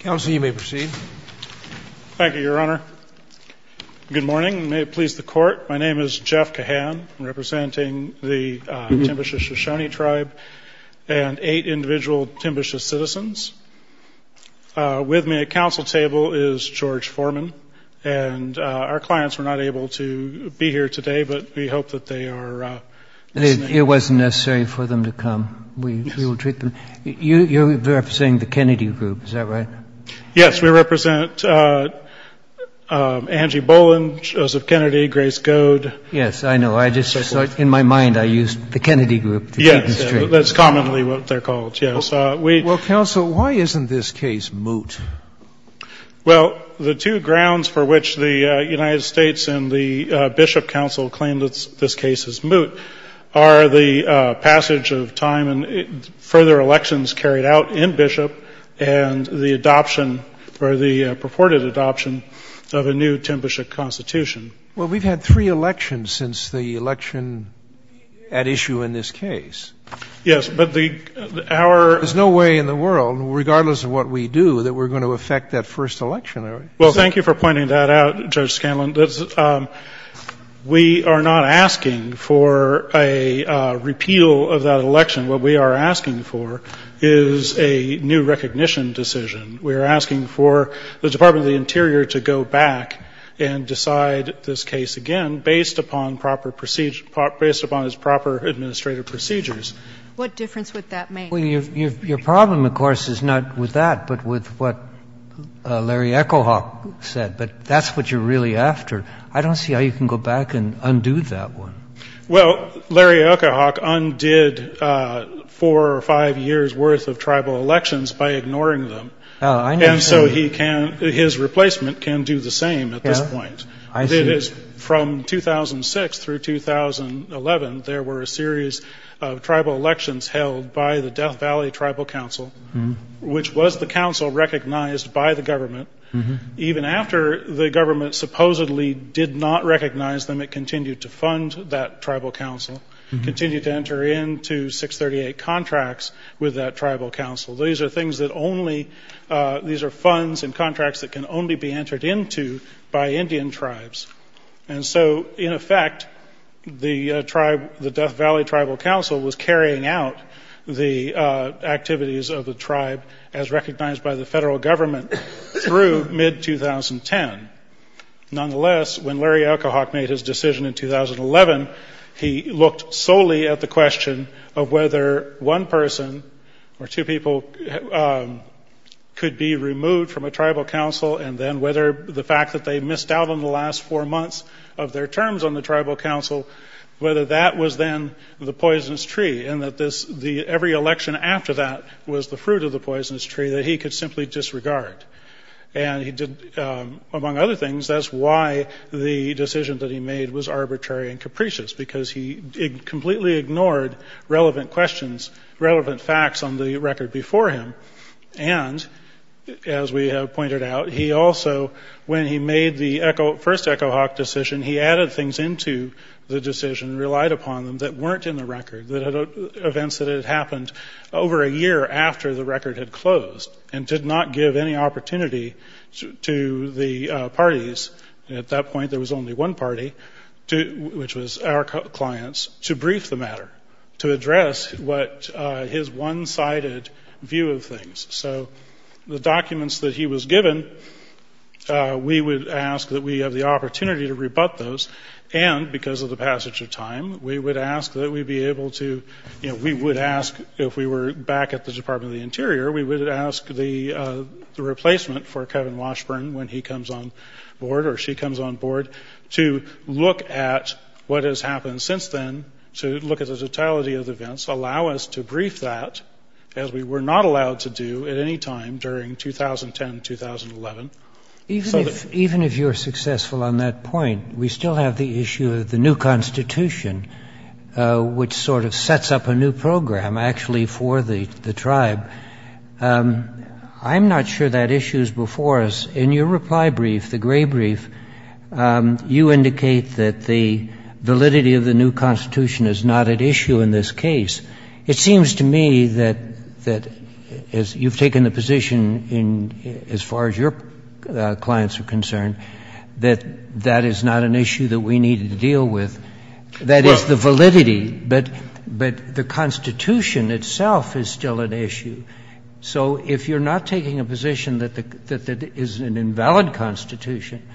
Counsel, you may proceed. Thank you, Your Honor. Good morning. May it please the court, my name is Jeff Cahan. I'm representing the Timbisha Shoshone Tribe and eight individual Timbisha citizens. With me at council table is George Foreman and our clients were not able to be here today, but we hope that they are. It wasn't necessary for them to come. We will treat them. You're representing the Kennedy group, is that right? Yes, we represent Angie Boland, Joseph Kennedy, Grace Goad. Yes, I know. I just, in my mind, I used the Kennedy group. Yes, that's commonly what they're called, yes. Well, counsel, why isn't this case moot? Well, the two grounds for which the United States and the Bishop Council claim that this case is moot are the passage of time and further elections carried out in Bishop and the adoption or the purported adoption of a new Timbisha constitution. Well, we've had three elections since the election at issue in this case. Yes, but the, our... There's no way in the world, regardless of what we do, that we're going to affect that first election. Well, thank you for pointing that out, Judge Scanlon. We are not asking for a repeal of that election. What we are asking for is a new recognition decision. We are asking for the Department of the Interior to go back and decide this case again based upon proper procedure – based upon its proper administrative procedures. What difference would that make? Well, your problem, of course, is not with that, but with what Larry Echo-Hawk said. But that's what you're really after. I don't see how you can go back and undo that one. Well, Larry Echo-Hawk undid four or five years' worth of tribal elections by ignoring them. And so he can, his replacement can do the same at this point. Yeah, I see. From 2006 through 2011, there were a series of tribal elections held by the Death Valley Tribal Council, which was the council recognized by the government. Even after the government supposedly did not recognize them, it continued to fund that tribal council, continued to enter into 638 contracts with that tribal council. These are things that only – these are funds and contracts that can only be entered into by Indian tribes. And so, in effect, the tribe – the Death Valley Tribal Council was carrying out the activities of the tribe as recognized by the federal government through mid-2010. Nonetheless, when Larry Echo-Hawk made his decision in 2011, he looked solely at the question of whether one person or two people could be removed from a tribal council, and then whether the fact that they missed out on the last four months of their terms on the tribal council, whether that was then the poisonous tree, and that this – the – every election after that was the fruit of the poisonous tree that he could simply disregard. And he did – among other things, that's why the decision that he made was arbitrary and capricious, because he completely ignored relevant questions, relevant facts on the record before him. And, as we have pointed out, he also, when he made the Echo – first Echo-Hawk decision, he added things into the decision, relied upon them that weren't in the record, events that had happened over a year after the record had closed, and did not give any opportunity to the parties – at that point, there was only one party, which was our clients – to brief the matter, to address what – his one-sided view of things. So the documents that he was given, we would – we would ask that we have the opportunity to rebut those, and, because of the passage of time, we would ask that we be able to – you know, we would ask, if we were back at the Department of the Interior, we would ask the replacement for Kevin Washburn, when he comes on board, or she comes on board, to look at what has happened since then, to look at the totality of events, allow us to brief that, as we were not allowed to do at any time during 2010-2011, so that – Even if – even if you're successful on that point, we still have the issue of the new constitution, which sort of sets up a new program, actually, for the tribe. I'm not sure that issue is before us. In your reply brief, the Gray brief, you indicate that the validity of the new constitution is not at issue in this case. It seems to me that, as – you've taken the position in – as far as your clients are concerned, that that is not an issue that we need to deal with. That is the validity, but the constitution itself is still an issue. So if you're not taking a position that the – that it is an invalid constitution,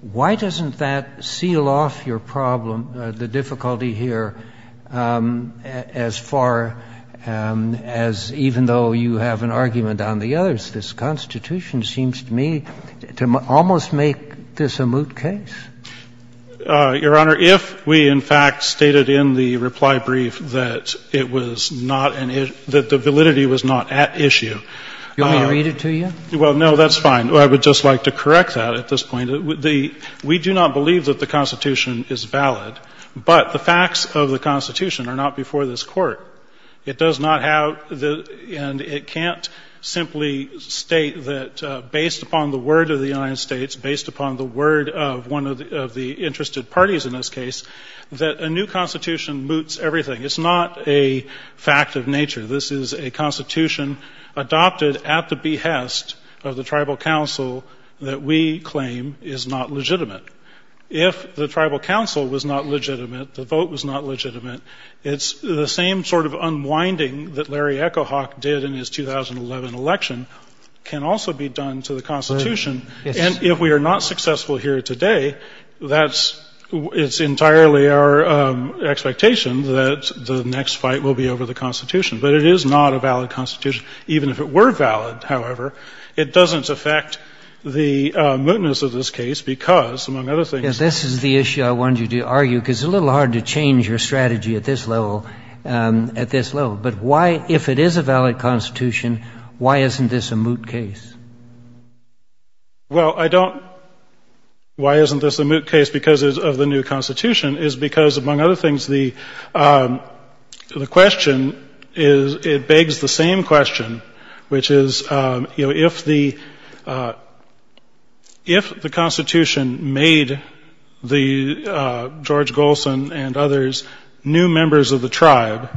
why doesn't that seal off your problem, the difficulty here, as far as, even though you have an argument on the others, this constitution seems to me to almost make this a moot case? Your Honor, if we, in fact, stated in the reply brief that it was not an issue, that the validity was not at issue – You want me to read it to you? Well, no, that's fine. I would just like to correct that at this point. We do not believe that the constitution is valid, but the facts of the constitution are not before this Court. It does not have the – and it can't simply state that, based upon the word of the United States, based upon the word of one of the interested parties in this case, that a new constitution moots everything. It's not a fact of nature. This is a constitution adopted at the behest of the tribal council that we claim is not legitimate. If the tribal council was not legitimate, the vote was not legitimate, it's the same sort of unwinding that Larry Echo Hawk did in his 2011 election can also be done to the constitution. And if we are not successful here today, that's – it's entirely our expectation that the next fight will be over the constitution. But it is not a valid constitution. Even if it were valid, however, it doesn't affect the mootness of this case, because, among other things – Yes, this is the issue I wanted you to argue, because it's a little hard to change your strategy at this level – at this level. But why – if it is a valid constitution, why isn't this a moot case? Well, I don't – why isn't this a moot case because of the new constitution is because, among other things, the question is – it begs the same question, which is, you know, if the – if the constitution made the – George Golson and others new members of the tribe,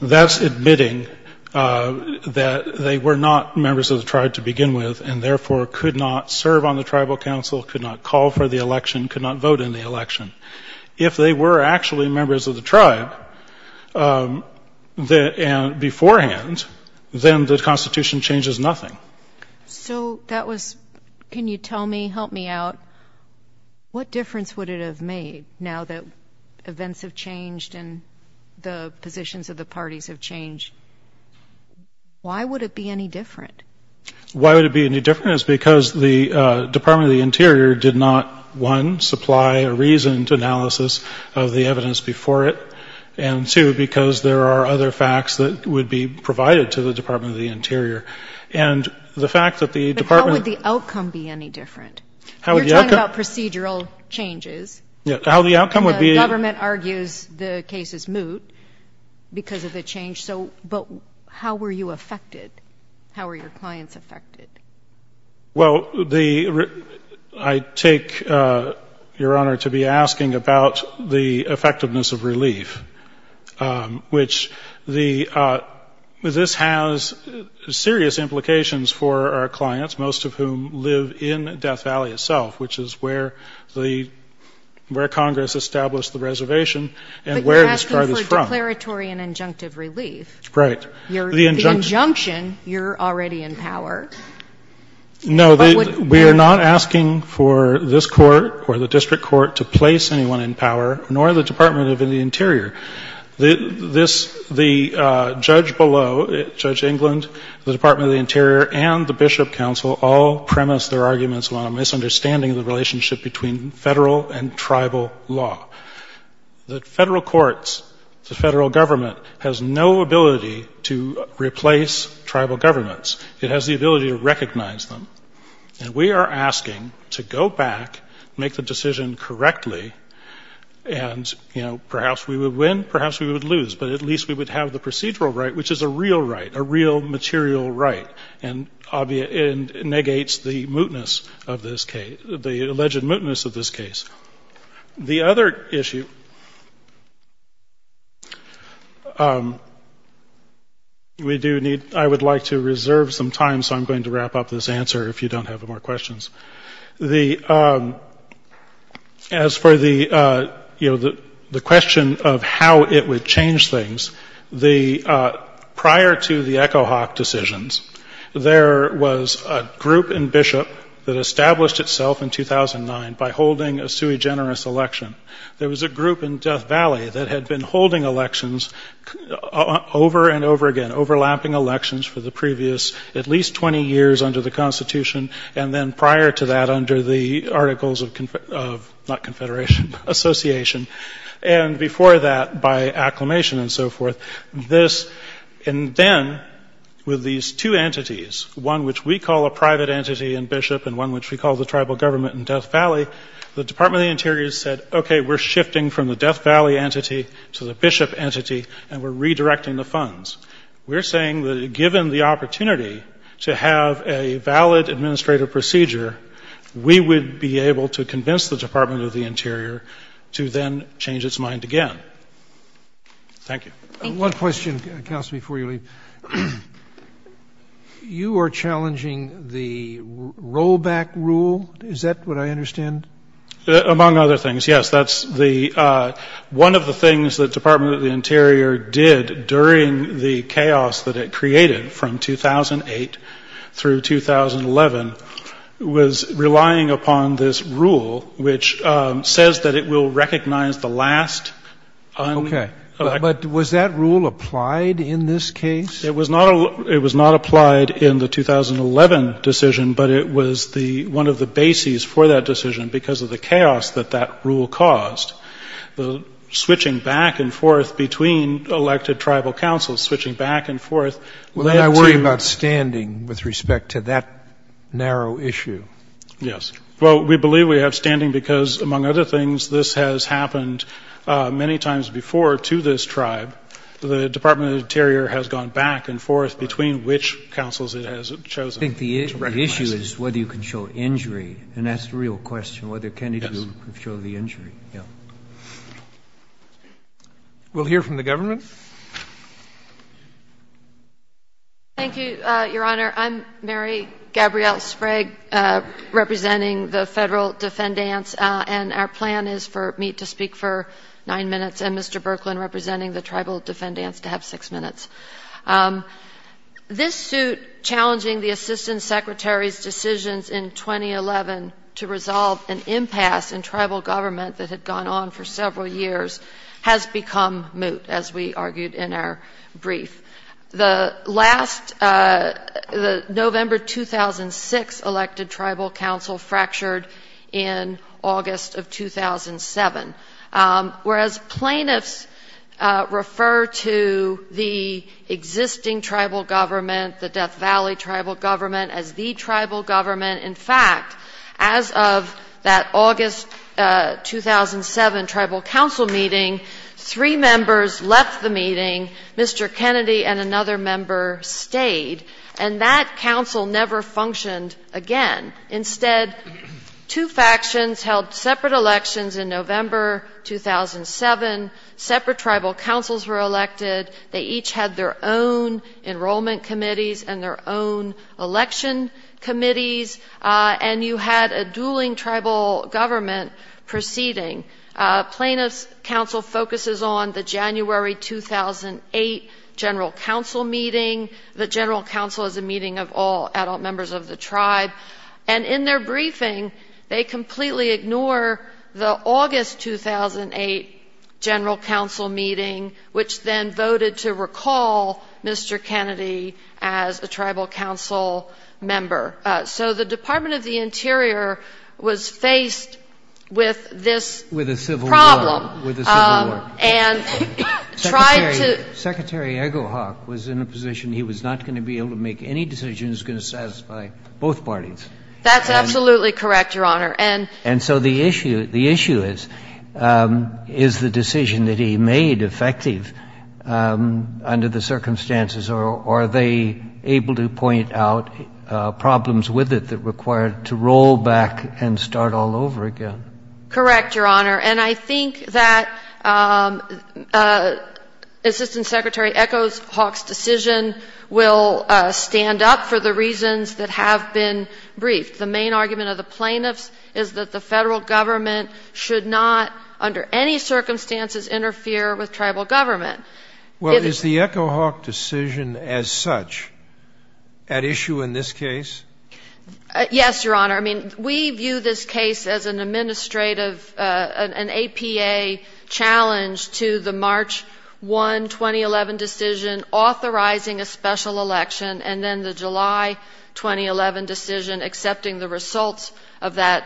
that's admitting that they were not members of the tribe to begin with, and therefore could not serve on the tribal council, could not call for the election, could not vote in the election. If they were actually members of the tribe beforehand, then the constitution changes nothing. So that was – can you tell me, help me out, what difference would it have made now that events have changed and the positions of the parties have changed? Why would it be any different? Why would it be any different is because the Department of the Interior did not, one, supply a reasoned analysis of the evidence before it, and, two, because there are other facts that would be provided to the Department of the Interior. And the fact that the Department – But how would the outcome be any different? How would the outcome – You're talking about procedural changes. Yeah. How the outcome would be – And the government argues the case is moot because of the change. So – but how were you affected? How were your clients affected? Well, the – I take Your Honor to be asking about the effectiveness of relief, which the – this has serious implications for our clients, most of whom live in Death Valley itself, which is where the – where Congress established the reservation and where the tribe is from. But you're asking for declaratory and injunctive relief. Right. You're – the injunction, you're already in power. No, the – we are not asking for this Court or the district court to place anyone in power nor the Department of the Interior. This – the judge below, Judge England, the Department of the Interior, and the Bishop Council all premise their arguments on a misunderstanding of the relationship between Federal and tribal law. The Federal courts, the Federal government, has no ability to replace tribal governments. It has the ability to recognize them. And we are asking to go back, make the decision correctly, and, you know, perhaps we would win, perhaps we would lose, but at least we would have the procedural right, which is a real right, a real material right, and negates the mootness of this case – the alleged mootness of this case. The other issue we do need – I would like to reserve some time, so I'm going to wrap up this answer if you don't have more questions. The – as for the, you know, the question of how it would change things, the – prior to the Echo Hawk decisions, there was a group in Bishop that established itself in 2009 by holding a sui generis election. There was a group in Death Valley that had been holding elections over and over again, overlapping elections for the previous at least 20 years under the Constitution, and then prior to that under the Articles of – not Confederation, Association. And before that, by acclamation and so forth, this – and then with these two entities, one which we call a private entity in Bishop and one which we call the tribal government in Death Valley, the Department of the Interior said, okay, we're shifting from the Death Valley entity to the Bishop entity, and we're redirecting the funds. We're saying that given the opportunity to have a valid administrative procedure, we would be able to convince the Department of the Interior to then change its mind again. Thank you. Thank you. One question, Kels, before you leave. You are challenging the rollback rule. Is that what I understand? Among other things, yes. That's the – one of the things the Department of the Interior did during the chaos that it created from 2008 through 2011 was relying upon this rule which says that it will recognize the last un… Okay. But was that rule applied in this case? It was not – it was not applied in the 2011 decision, but it was the – one of the bases for that decision because of the chaos that that rule caused. The switching back and forth between elected tribal councils, switching back and forth led to… Well, then I worry about standing with respect to that narrow issue. Yes. Well, we believe we have standing because, among other things, this has happened many times before to this tribe. The Department of the Interior has gone back and forth between which councils it has chosen to recognize. I think the issue is whether you can show injury, and that's the real question, whether can it be to show the injury, yes. We'll hear from the government. Thank you, Your Honor. I'm Mary Gabrielle Sprague representing the Federal Defendants, and our plan is for me to speak for nine minutes and Mr. Berklin representing the Tribal Defendants to have six minutes. This suit challenging the Assistant Secretary's decisions in 2011 to resolve an impasse in our brief. The last – the November 2006 elected tribal council fractured in August of 2007. Whereas plaintiffs refer to the existing tribal government, the Death Valley tribal government as the tribal government, in fact, as of that August 2007 tribal council meeting, three members left the meeting, Mr. Kennedy and another member stayed, and that council never functioned again. Instead, two factions held separate elections in November 2007. Separate tribal councils were elected. They each had their own enrollment committees and their own election committees, and you had a dueling tribal government proceeding. Plaintiffs' council focuses on the January 2008 general council meeting. The general council is a meeting of all adult members of the tribe. And in their briefing, they completely ignore the August 2008 general council meeting, which then voted to recall Mr. Kennedy as a tribal council member. So the Department of the Interior was faced with this problem. With a civil war. With a civil war. And tried to – Secretary Egelhoff was in a position he was not going to be able to make any decision that was going to satisfy both parties. That's absolutely correct, Your Honor. And – And so the issue is, is the decision that he made effective under the circumstances or are they able to point out problems with it that required to roll back and start all over again? Correct, Your Honor. And I think that Assistant Secretary Egelhoff's decision will stand up for the reasons that have been briefed. The main argument of the plaintiffs is that the federal government should not, under any circumstances, interfere with tribal government. Well, is the Egelhoff decision as such at issue in this case? Yes, Your Honor. I mean, we view this case as an administrative, an APA challenge to the March 1, 2011 decision authorizing a special election and then the July 2011 decision accepting the results of that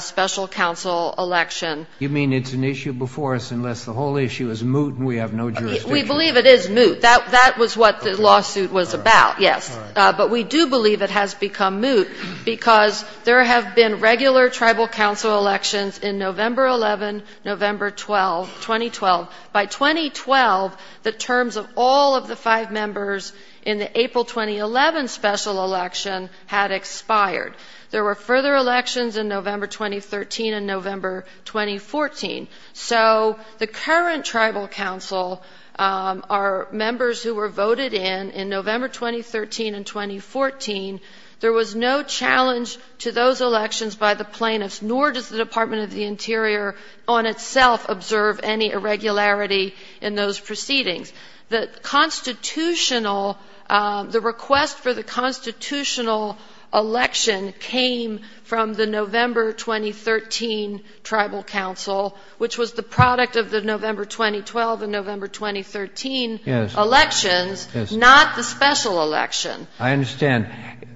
special council election. You mean it's an issue before us unless the whole issue is moot and we have no jurisdiction? We believe it is moot. That was what the lawsuit was about, yes. But we do believe it has become moot because there have been regular tribal council elections in November 11, November 12, 2012. By 2012, the terms of all of the five members in the April 2011 special election had expired. There were further elections in November 2013 and November 2014. So the current tribal council are members who were voted in in November 2013 and 2014. There was no challenge to those elections by the plaintiffs, nor does the Department of the Interior on itself observe any irregularity in those proceedings. The constitutional, the request for the constitutional election came from the November 2013 tribal council, which was the product of the November 2012 and November 2013 elections, not the special election. I understand.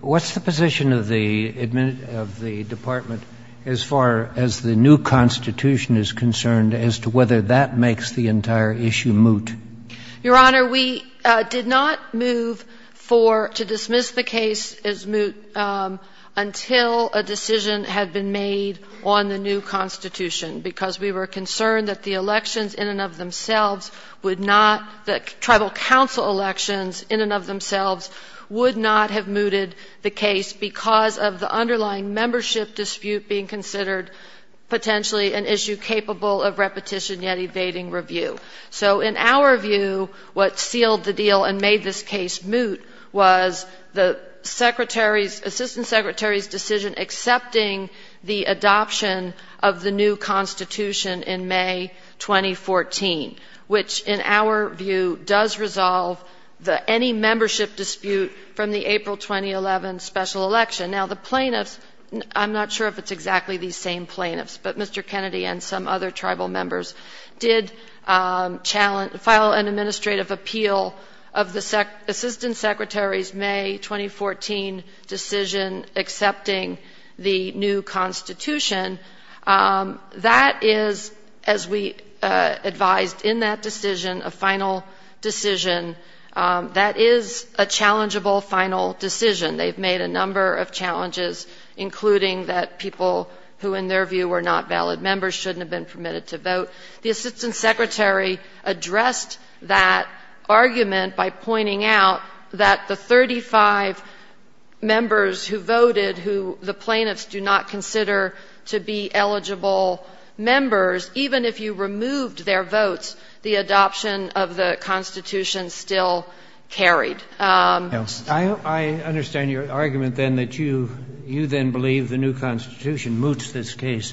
What's the position of the department as far as the new constitution is concerned as to whether that makes the entire issue moot? Your Honor, we did not move for, to dismiss the case as moot until a decision had been made on the new constitution because we were concerned that the elections in and of themselves would not, the tribal council elections in and of themselves would not have mooted the case because of the underlying membership dispute being considered potentially an issue capable of repetition yet evading review. So in our view, what sealed the deal and made this case moot was the Secretary's, Assistant Secretary's decision accepting the adoption of the new constitution in May 2014, which in our view does resolve any membership dispute from the April 2011 special election. Now the plaintiffs, I'm not sure if it's exactly these same plaintiffs, but Mr. Kennedy and some other tribal members did challenge, file an administrative appeal of the Assistant Secretary's May 2014 decision accepting the new constitution. That is, as we advised in that decision, a final decision, that is a challengeable final decision. They've made a number of challenges, including that people who in their view were not valid members shouldn't have been permitted to vote. The Assistant Secretary addressed that argument by pointing out that the 35 members who voted who the plaintiffs do not consider to be eligible members, even if you removed their votes, the adoption of the constitution still carried. I understand your argument then that you, you then believe the new constitution moots this case.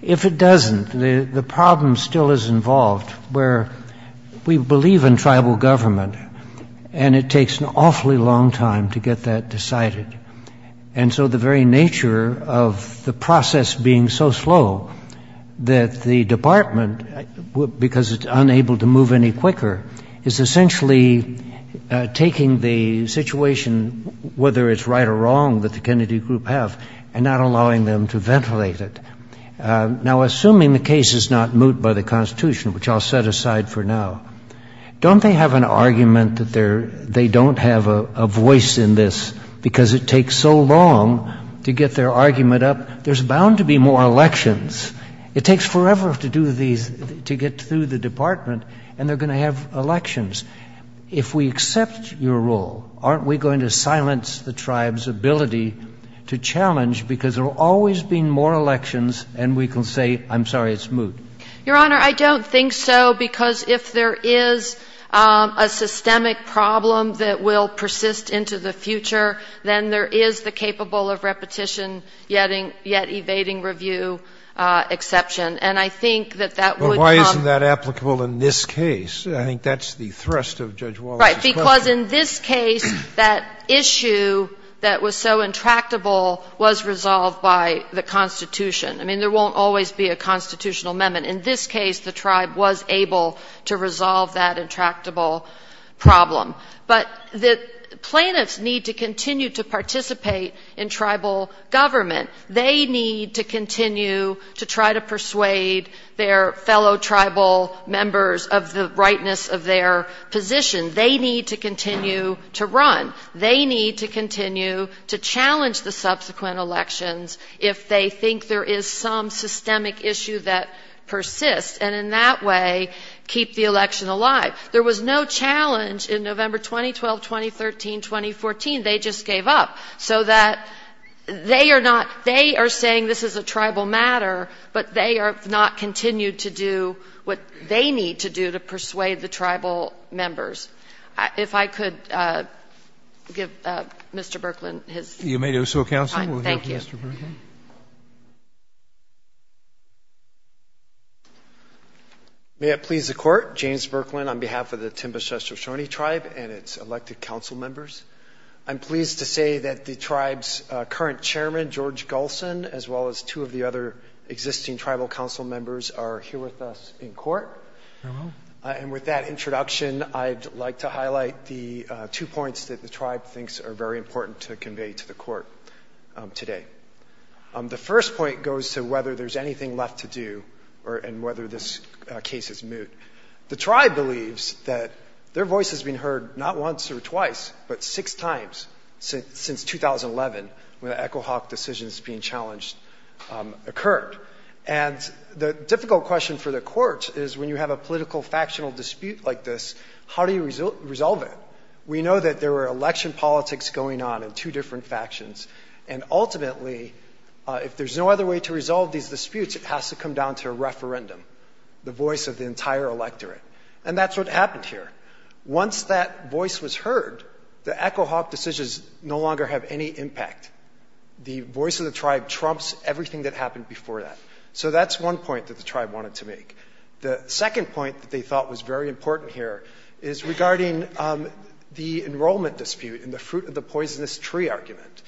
If it doesn't, the problem still is involved where we believe in tribal government, and it takes an awfully long time to get that decided. And so the very nature of the process being so slow that the department, because it's unable to move any quicker, is essentially taking the situation, whether it's right or wrong, that the Kennedy group have and not have. Now assuming the case is not moot by the constitution, which I'll set aside for now, don't they have an argument that they don't have a voice in this because it takes so long to get their argument up? There's bound to be more elections. It takes forever to do these, to get through the department, and they're going to have elections. If we accept your rule, aren't we going to silence the tribe's ability to challenge, because there will always be more elections, and we can say, I'm sorry, it's moot. Your Honor, I don't think so, because if there is a systemic problem that will persist into the future, then there is the capable of repetition, yet evading review exception. And I think that that would come Well, why isn't that applicable in this case? I think that's the thrust of Judge Wallace's question. Right. Because in this case, that issue that was so intractable was resolved by the constitution I mean, there won't always be a constitutional amendment. In this case, the tribe was able to resolve that intractable problem. But the plaintiffs need to continue to participate in tribal government. They need to continue to try to persuade their fellow tribal members of the rightness of their position. They need to continue to run. They need to continue to challenge the subsequent elections if they think there is some systemic issue that persists, and in that way, keep the election alive. There was no challenge in November 2012, 2013, 2014. They just gave up. So that they are not, they are saying this is a tribal matter, but they have not continued to do what they need to do to persuade the tribal members. If I could give Mr. Berkland his time. You may do so, Counsel. We'll go to Mr. Berkland. May it please the Court, James Berkland on behalf of the Timbush-Estochone Tribe and its elected council members. I'm pleased to say that the tribe's current chairman, George Golson, as well as two of the other existing tribal council members are here with us in court. Hello. And with that introduction, I'd like to highlight the two points that the tribe thinks are very important to convey to the court today. The first point goes to whether there's anything left to do and whether this case is moot. The tribe believes that their voice has been heard not once or twice, but six times since 2011 when the Echo Hawk decision is being challenged occurred. And the difficult question for the court is when you have a political factional dispute like this, how do you resolve it? We know that there were election politics going on in two different factions. And ultimately, if there's no other way to resolve these disputes, it has to come down to a referendum, the voice of the entire electorate. And that's what happened here. Once that voice was heard, the Echo Hawk decisions no longer have any impact. The voice of the tribe trumps everything that happened before that. So that's one point that the tribe wanted to make. The second point that they thought was very important here is regarding the enrollment dispute and the fruit of the poisonous tree argument.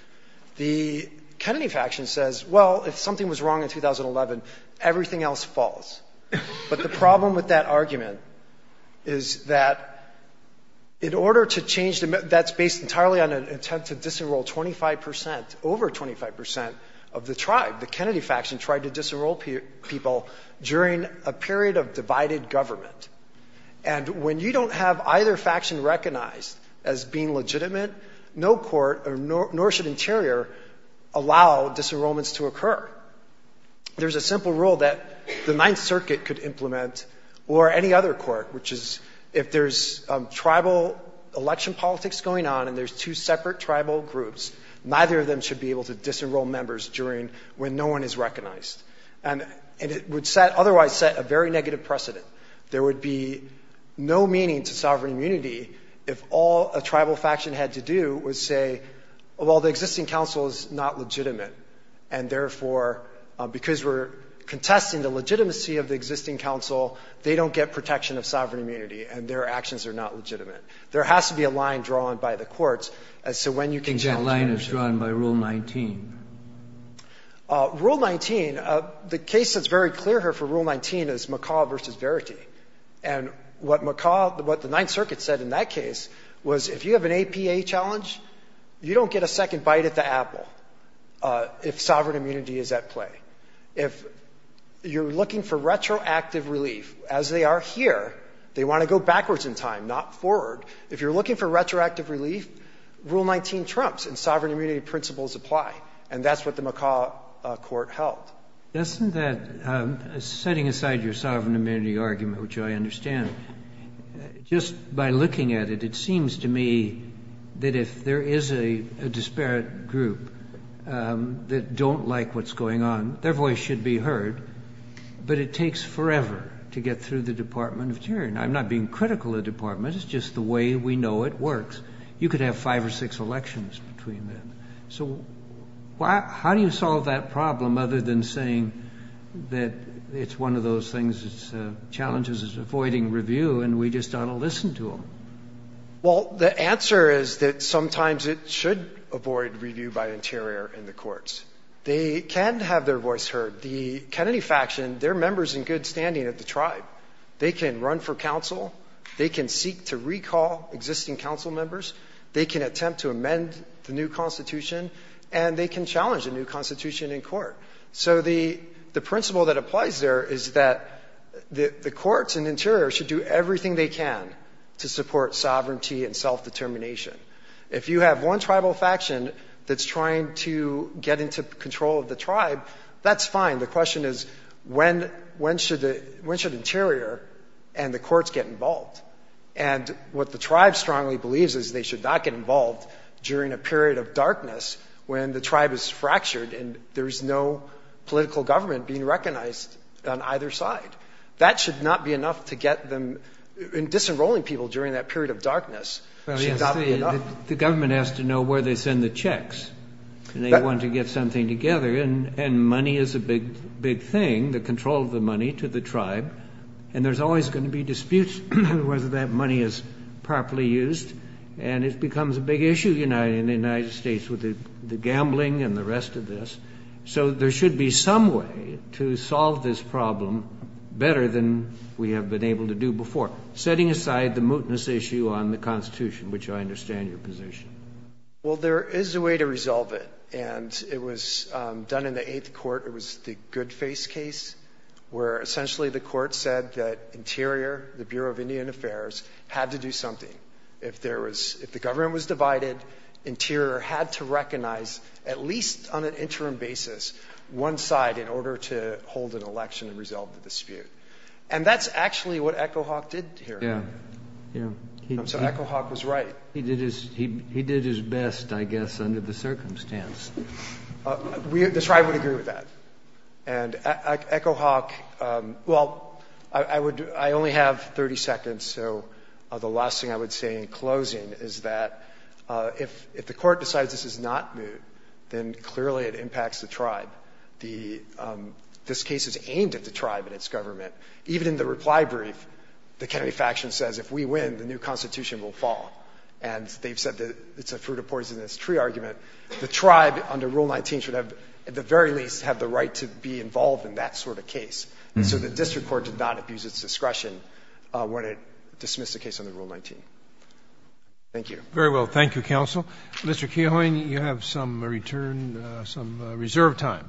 The Kennedy faction says, well, if something was wrong in 2011, everything else falls. But the problem with that argument is that in order to change the—that's based entirely on an attempt to disenroll 25 percent, over 25 percent of the tribe, the Kennedy faction, tried to disenroll people during a period of divided government. And when you don't have either faction recognized as being legitimate, no court nor should Interior allow disenrollments to occur. There's a simple rule that the Ninth Circuit could implement or any other court, which is if there's tribal election politics going on and there's two separate tribal groups, neither of them should be able to disenroll members during—when no one is recognized. And it would set—otherwise set a very negative precedent. There would be no meaning to sovereign immunity if all a tribal faction had to do was say, well, the existing council is not legitimate. And therefore, because we're contesting the legitimacy of the existing council, they don't get protection of sovereign immunity and their actions are not legitimate. There has to be a line drawn by the courts as to when you can challenge that. I think that line is drawn by Rule 19. Rule 19, the case that's very clear here for Rule 19 is McCaw versus Verity. And what McCaw—what the Ninth Circuit said in that case was if you have an APA challenge, you don't get a second bite at the apple if sovereign immunity is at play. If you're looking for backwards in time, not forward. If you're looking for retroactive relief, Rule 19 trumps and sovereign immunity principles apply. And that's what the McCaw court held. Isn't that—setting aside your sovereign immunity argument, which I understand, just by looking at it, it seems to me that if there is a disparate group that don't like what's going on, their voice should be heard. But it takes forever to get through the Department of the Interior. And I'm not being critical of the Department. It's just the way we know it works. You could have five or six elections between them. So how do you solve that problem other than saying that it's one of those things, its challenges is avoiding review, and we just ought to listen to them? Well, the answer is that sometimes it should avoid review by Interior in the courts. They can have their voice heard. The Kennedy faction, they're members in good standing of the tribe. They can run for council. They can seek to recall existing council members. They can attempt to amend the new constitution. And they can challenge a new constitution in court. So the principle that applies there is that the courts and Interior should do everything they can to support sovereignty and self-determination. If you have one tribal faction that's trying to get into control of the tribe, that's fine. The question is when should Interior and the courts get involved? And what the tribe strongly believes is they should not get involved during a period of darkness when the tribe is fractured and there's no political government being recognized on either side. That should not be enough to get them, in disenrolling people during that period of darkness, should not be enough. The government has to know where they send the checks. They want to get something together. And money is a big thing, the control of the money to the tribe. And there's always going to be disputes whether that money is properly used. And it becomes a big issue in the United States with the gambling and the rest of this. So there should be some way to solve this problem better than we have been able to do before, setting aside the mootness issue on the constitution, which I understand your position. Well there is a way to resolve it. And it was done in the eighth court. It was the Goodface case where essentially the court said that Interior, the Bureau of Indian Affairs, had to do something. If the government was divided, Interior had to recognize, at least on an interim basis, one side in order to hold an election and resolve the dispute. And that's actually what Echo Hawk did here. So Echo Hawk was right. He did his best, I guess, under the circumstance. The tribe would agree with that. And Echo Hawk, well, I only have 30 seconds, so the last thing I would say in closing is that if the court decides this is not moot, then clearly it impacts the tribe. This case is aimed at the tribe and its government. Even in the reply brief, the Kennedy faction says, if we win, the new constitution will fall. And they've said that it's a fruit of poisonous tree argument. The tribe, under Rule 19, should have, at the very least, have the right to be involved in that sort of case. So the district court did not abuse its discretion when it dismissed the case under Rule 19. Thank you. Very well. Thank you, counsel. Mr. Keohane, you have some return, some reserve time.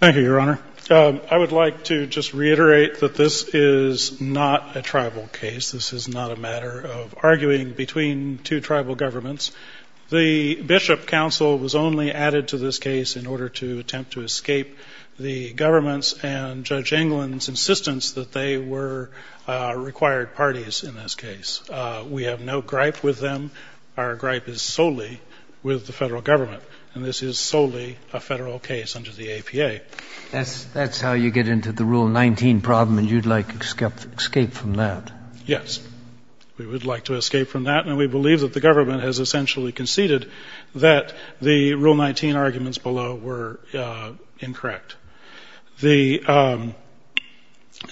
Thank you, Your Honor. I would like to just reiterate that this is not a tribal case. This is not a matter of arguing between two tribal governments. The bishop counsel was only added to this case in order to attempt to escape the government's and Judge Englund's insistence that they were required parties in this case. We have no gripe with them. Our gripe is solely with the federal government, and this is solely a federal case under the APA. That's how you get into the Rule 19 problem, and you'd like to escape from that. Yes, we would like to escape from that, and we believe that the government has essentially conceded that the Rule 19 arguments below were incorrect. The — I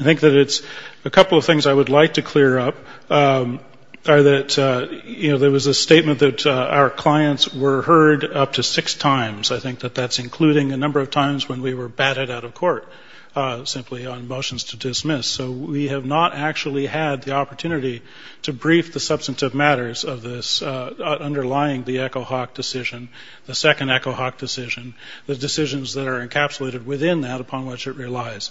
think that it's — a couple of things I would like to clear up are that, you know, there was a statement that our clients were heard up to six times. I think that that's including a number of times when we were batted out of court simply on motions to dismiss. So we have not actually had the opportunity to brief the substantive matters of this underlying the Echo Hawk decision, the second Echo Hawk decision, the decisions that are encapsulated within that upon which it relies.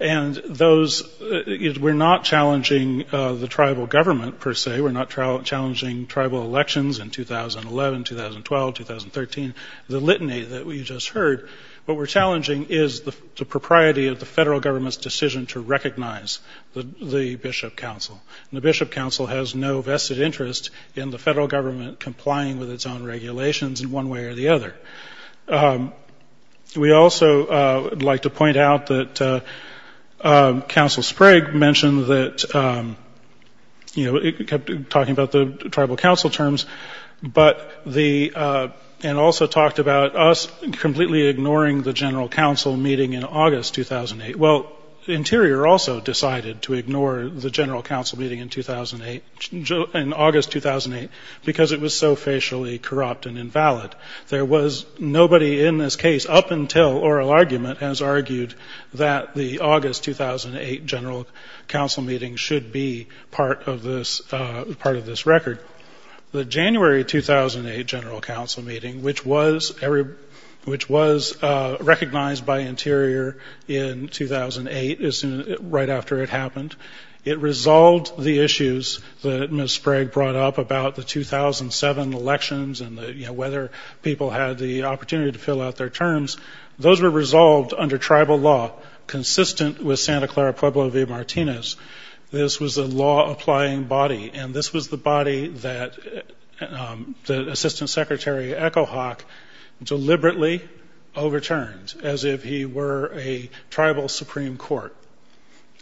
And those — we're not challenging the tribal government, per se. We're not challenging tribal elections in 2011, 2012, 2013, the litany that we just heard. What we're challenging is the propriety of the federal government's decision to recognize the Bishop Council. The Bishop Council has no vested interest in the federal government complying with its own regulations in one way or the other. We also would like to point out that Council Sprague mentioned that, you know, it kept talking about the tribal council terms, but the — and also talked about us completely ignoring the general council meeting in August 2008. Well, Interior also decided to ignore the general council meeting in 2008 — in August 2008 because it was so facially corrupt and invalid. There was nobody in this case up until oral argument has argued that the August 2008 general council meeting should be part of this — part of this record. The January 2008 general council meeting, which was — which was recognized by Interior in 2008 is — right after it happened. It resolved the issues that Ms. Sprague brought up about the 2007 elections and the — you know, whether people had the opportunity to fill out their terms. Those were resolved under tribal law, consistent with Santa Clara Pueblo v. Martinez. This was a law-applying body, and this was the body that the Assistant Secretary Echohawk deliberately overturned as if he were a tribal Supreme Court.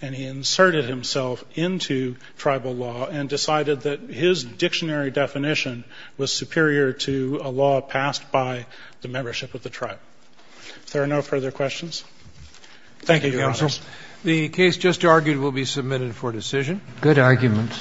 And he inserted himself into tribal law and decided that his dictionary definition was superior to a law passed by the membership of the tribe. If there are no further questions, thank you, Your Honors. Thank you, Counsel. The case just argued will be submitted for decision. Good arguments.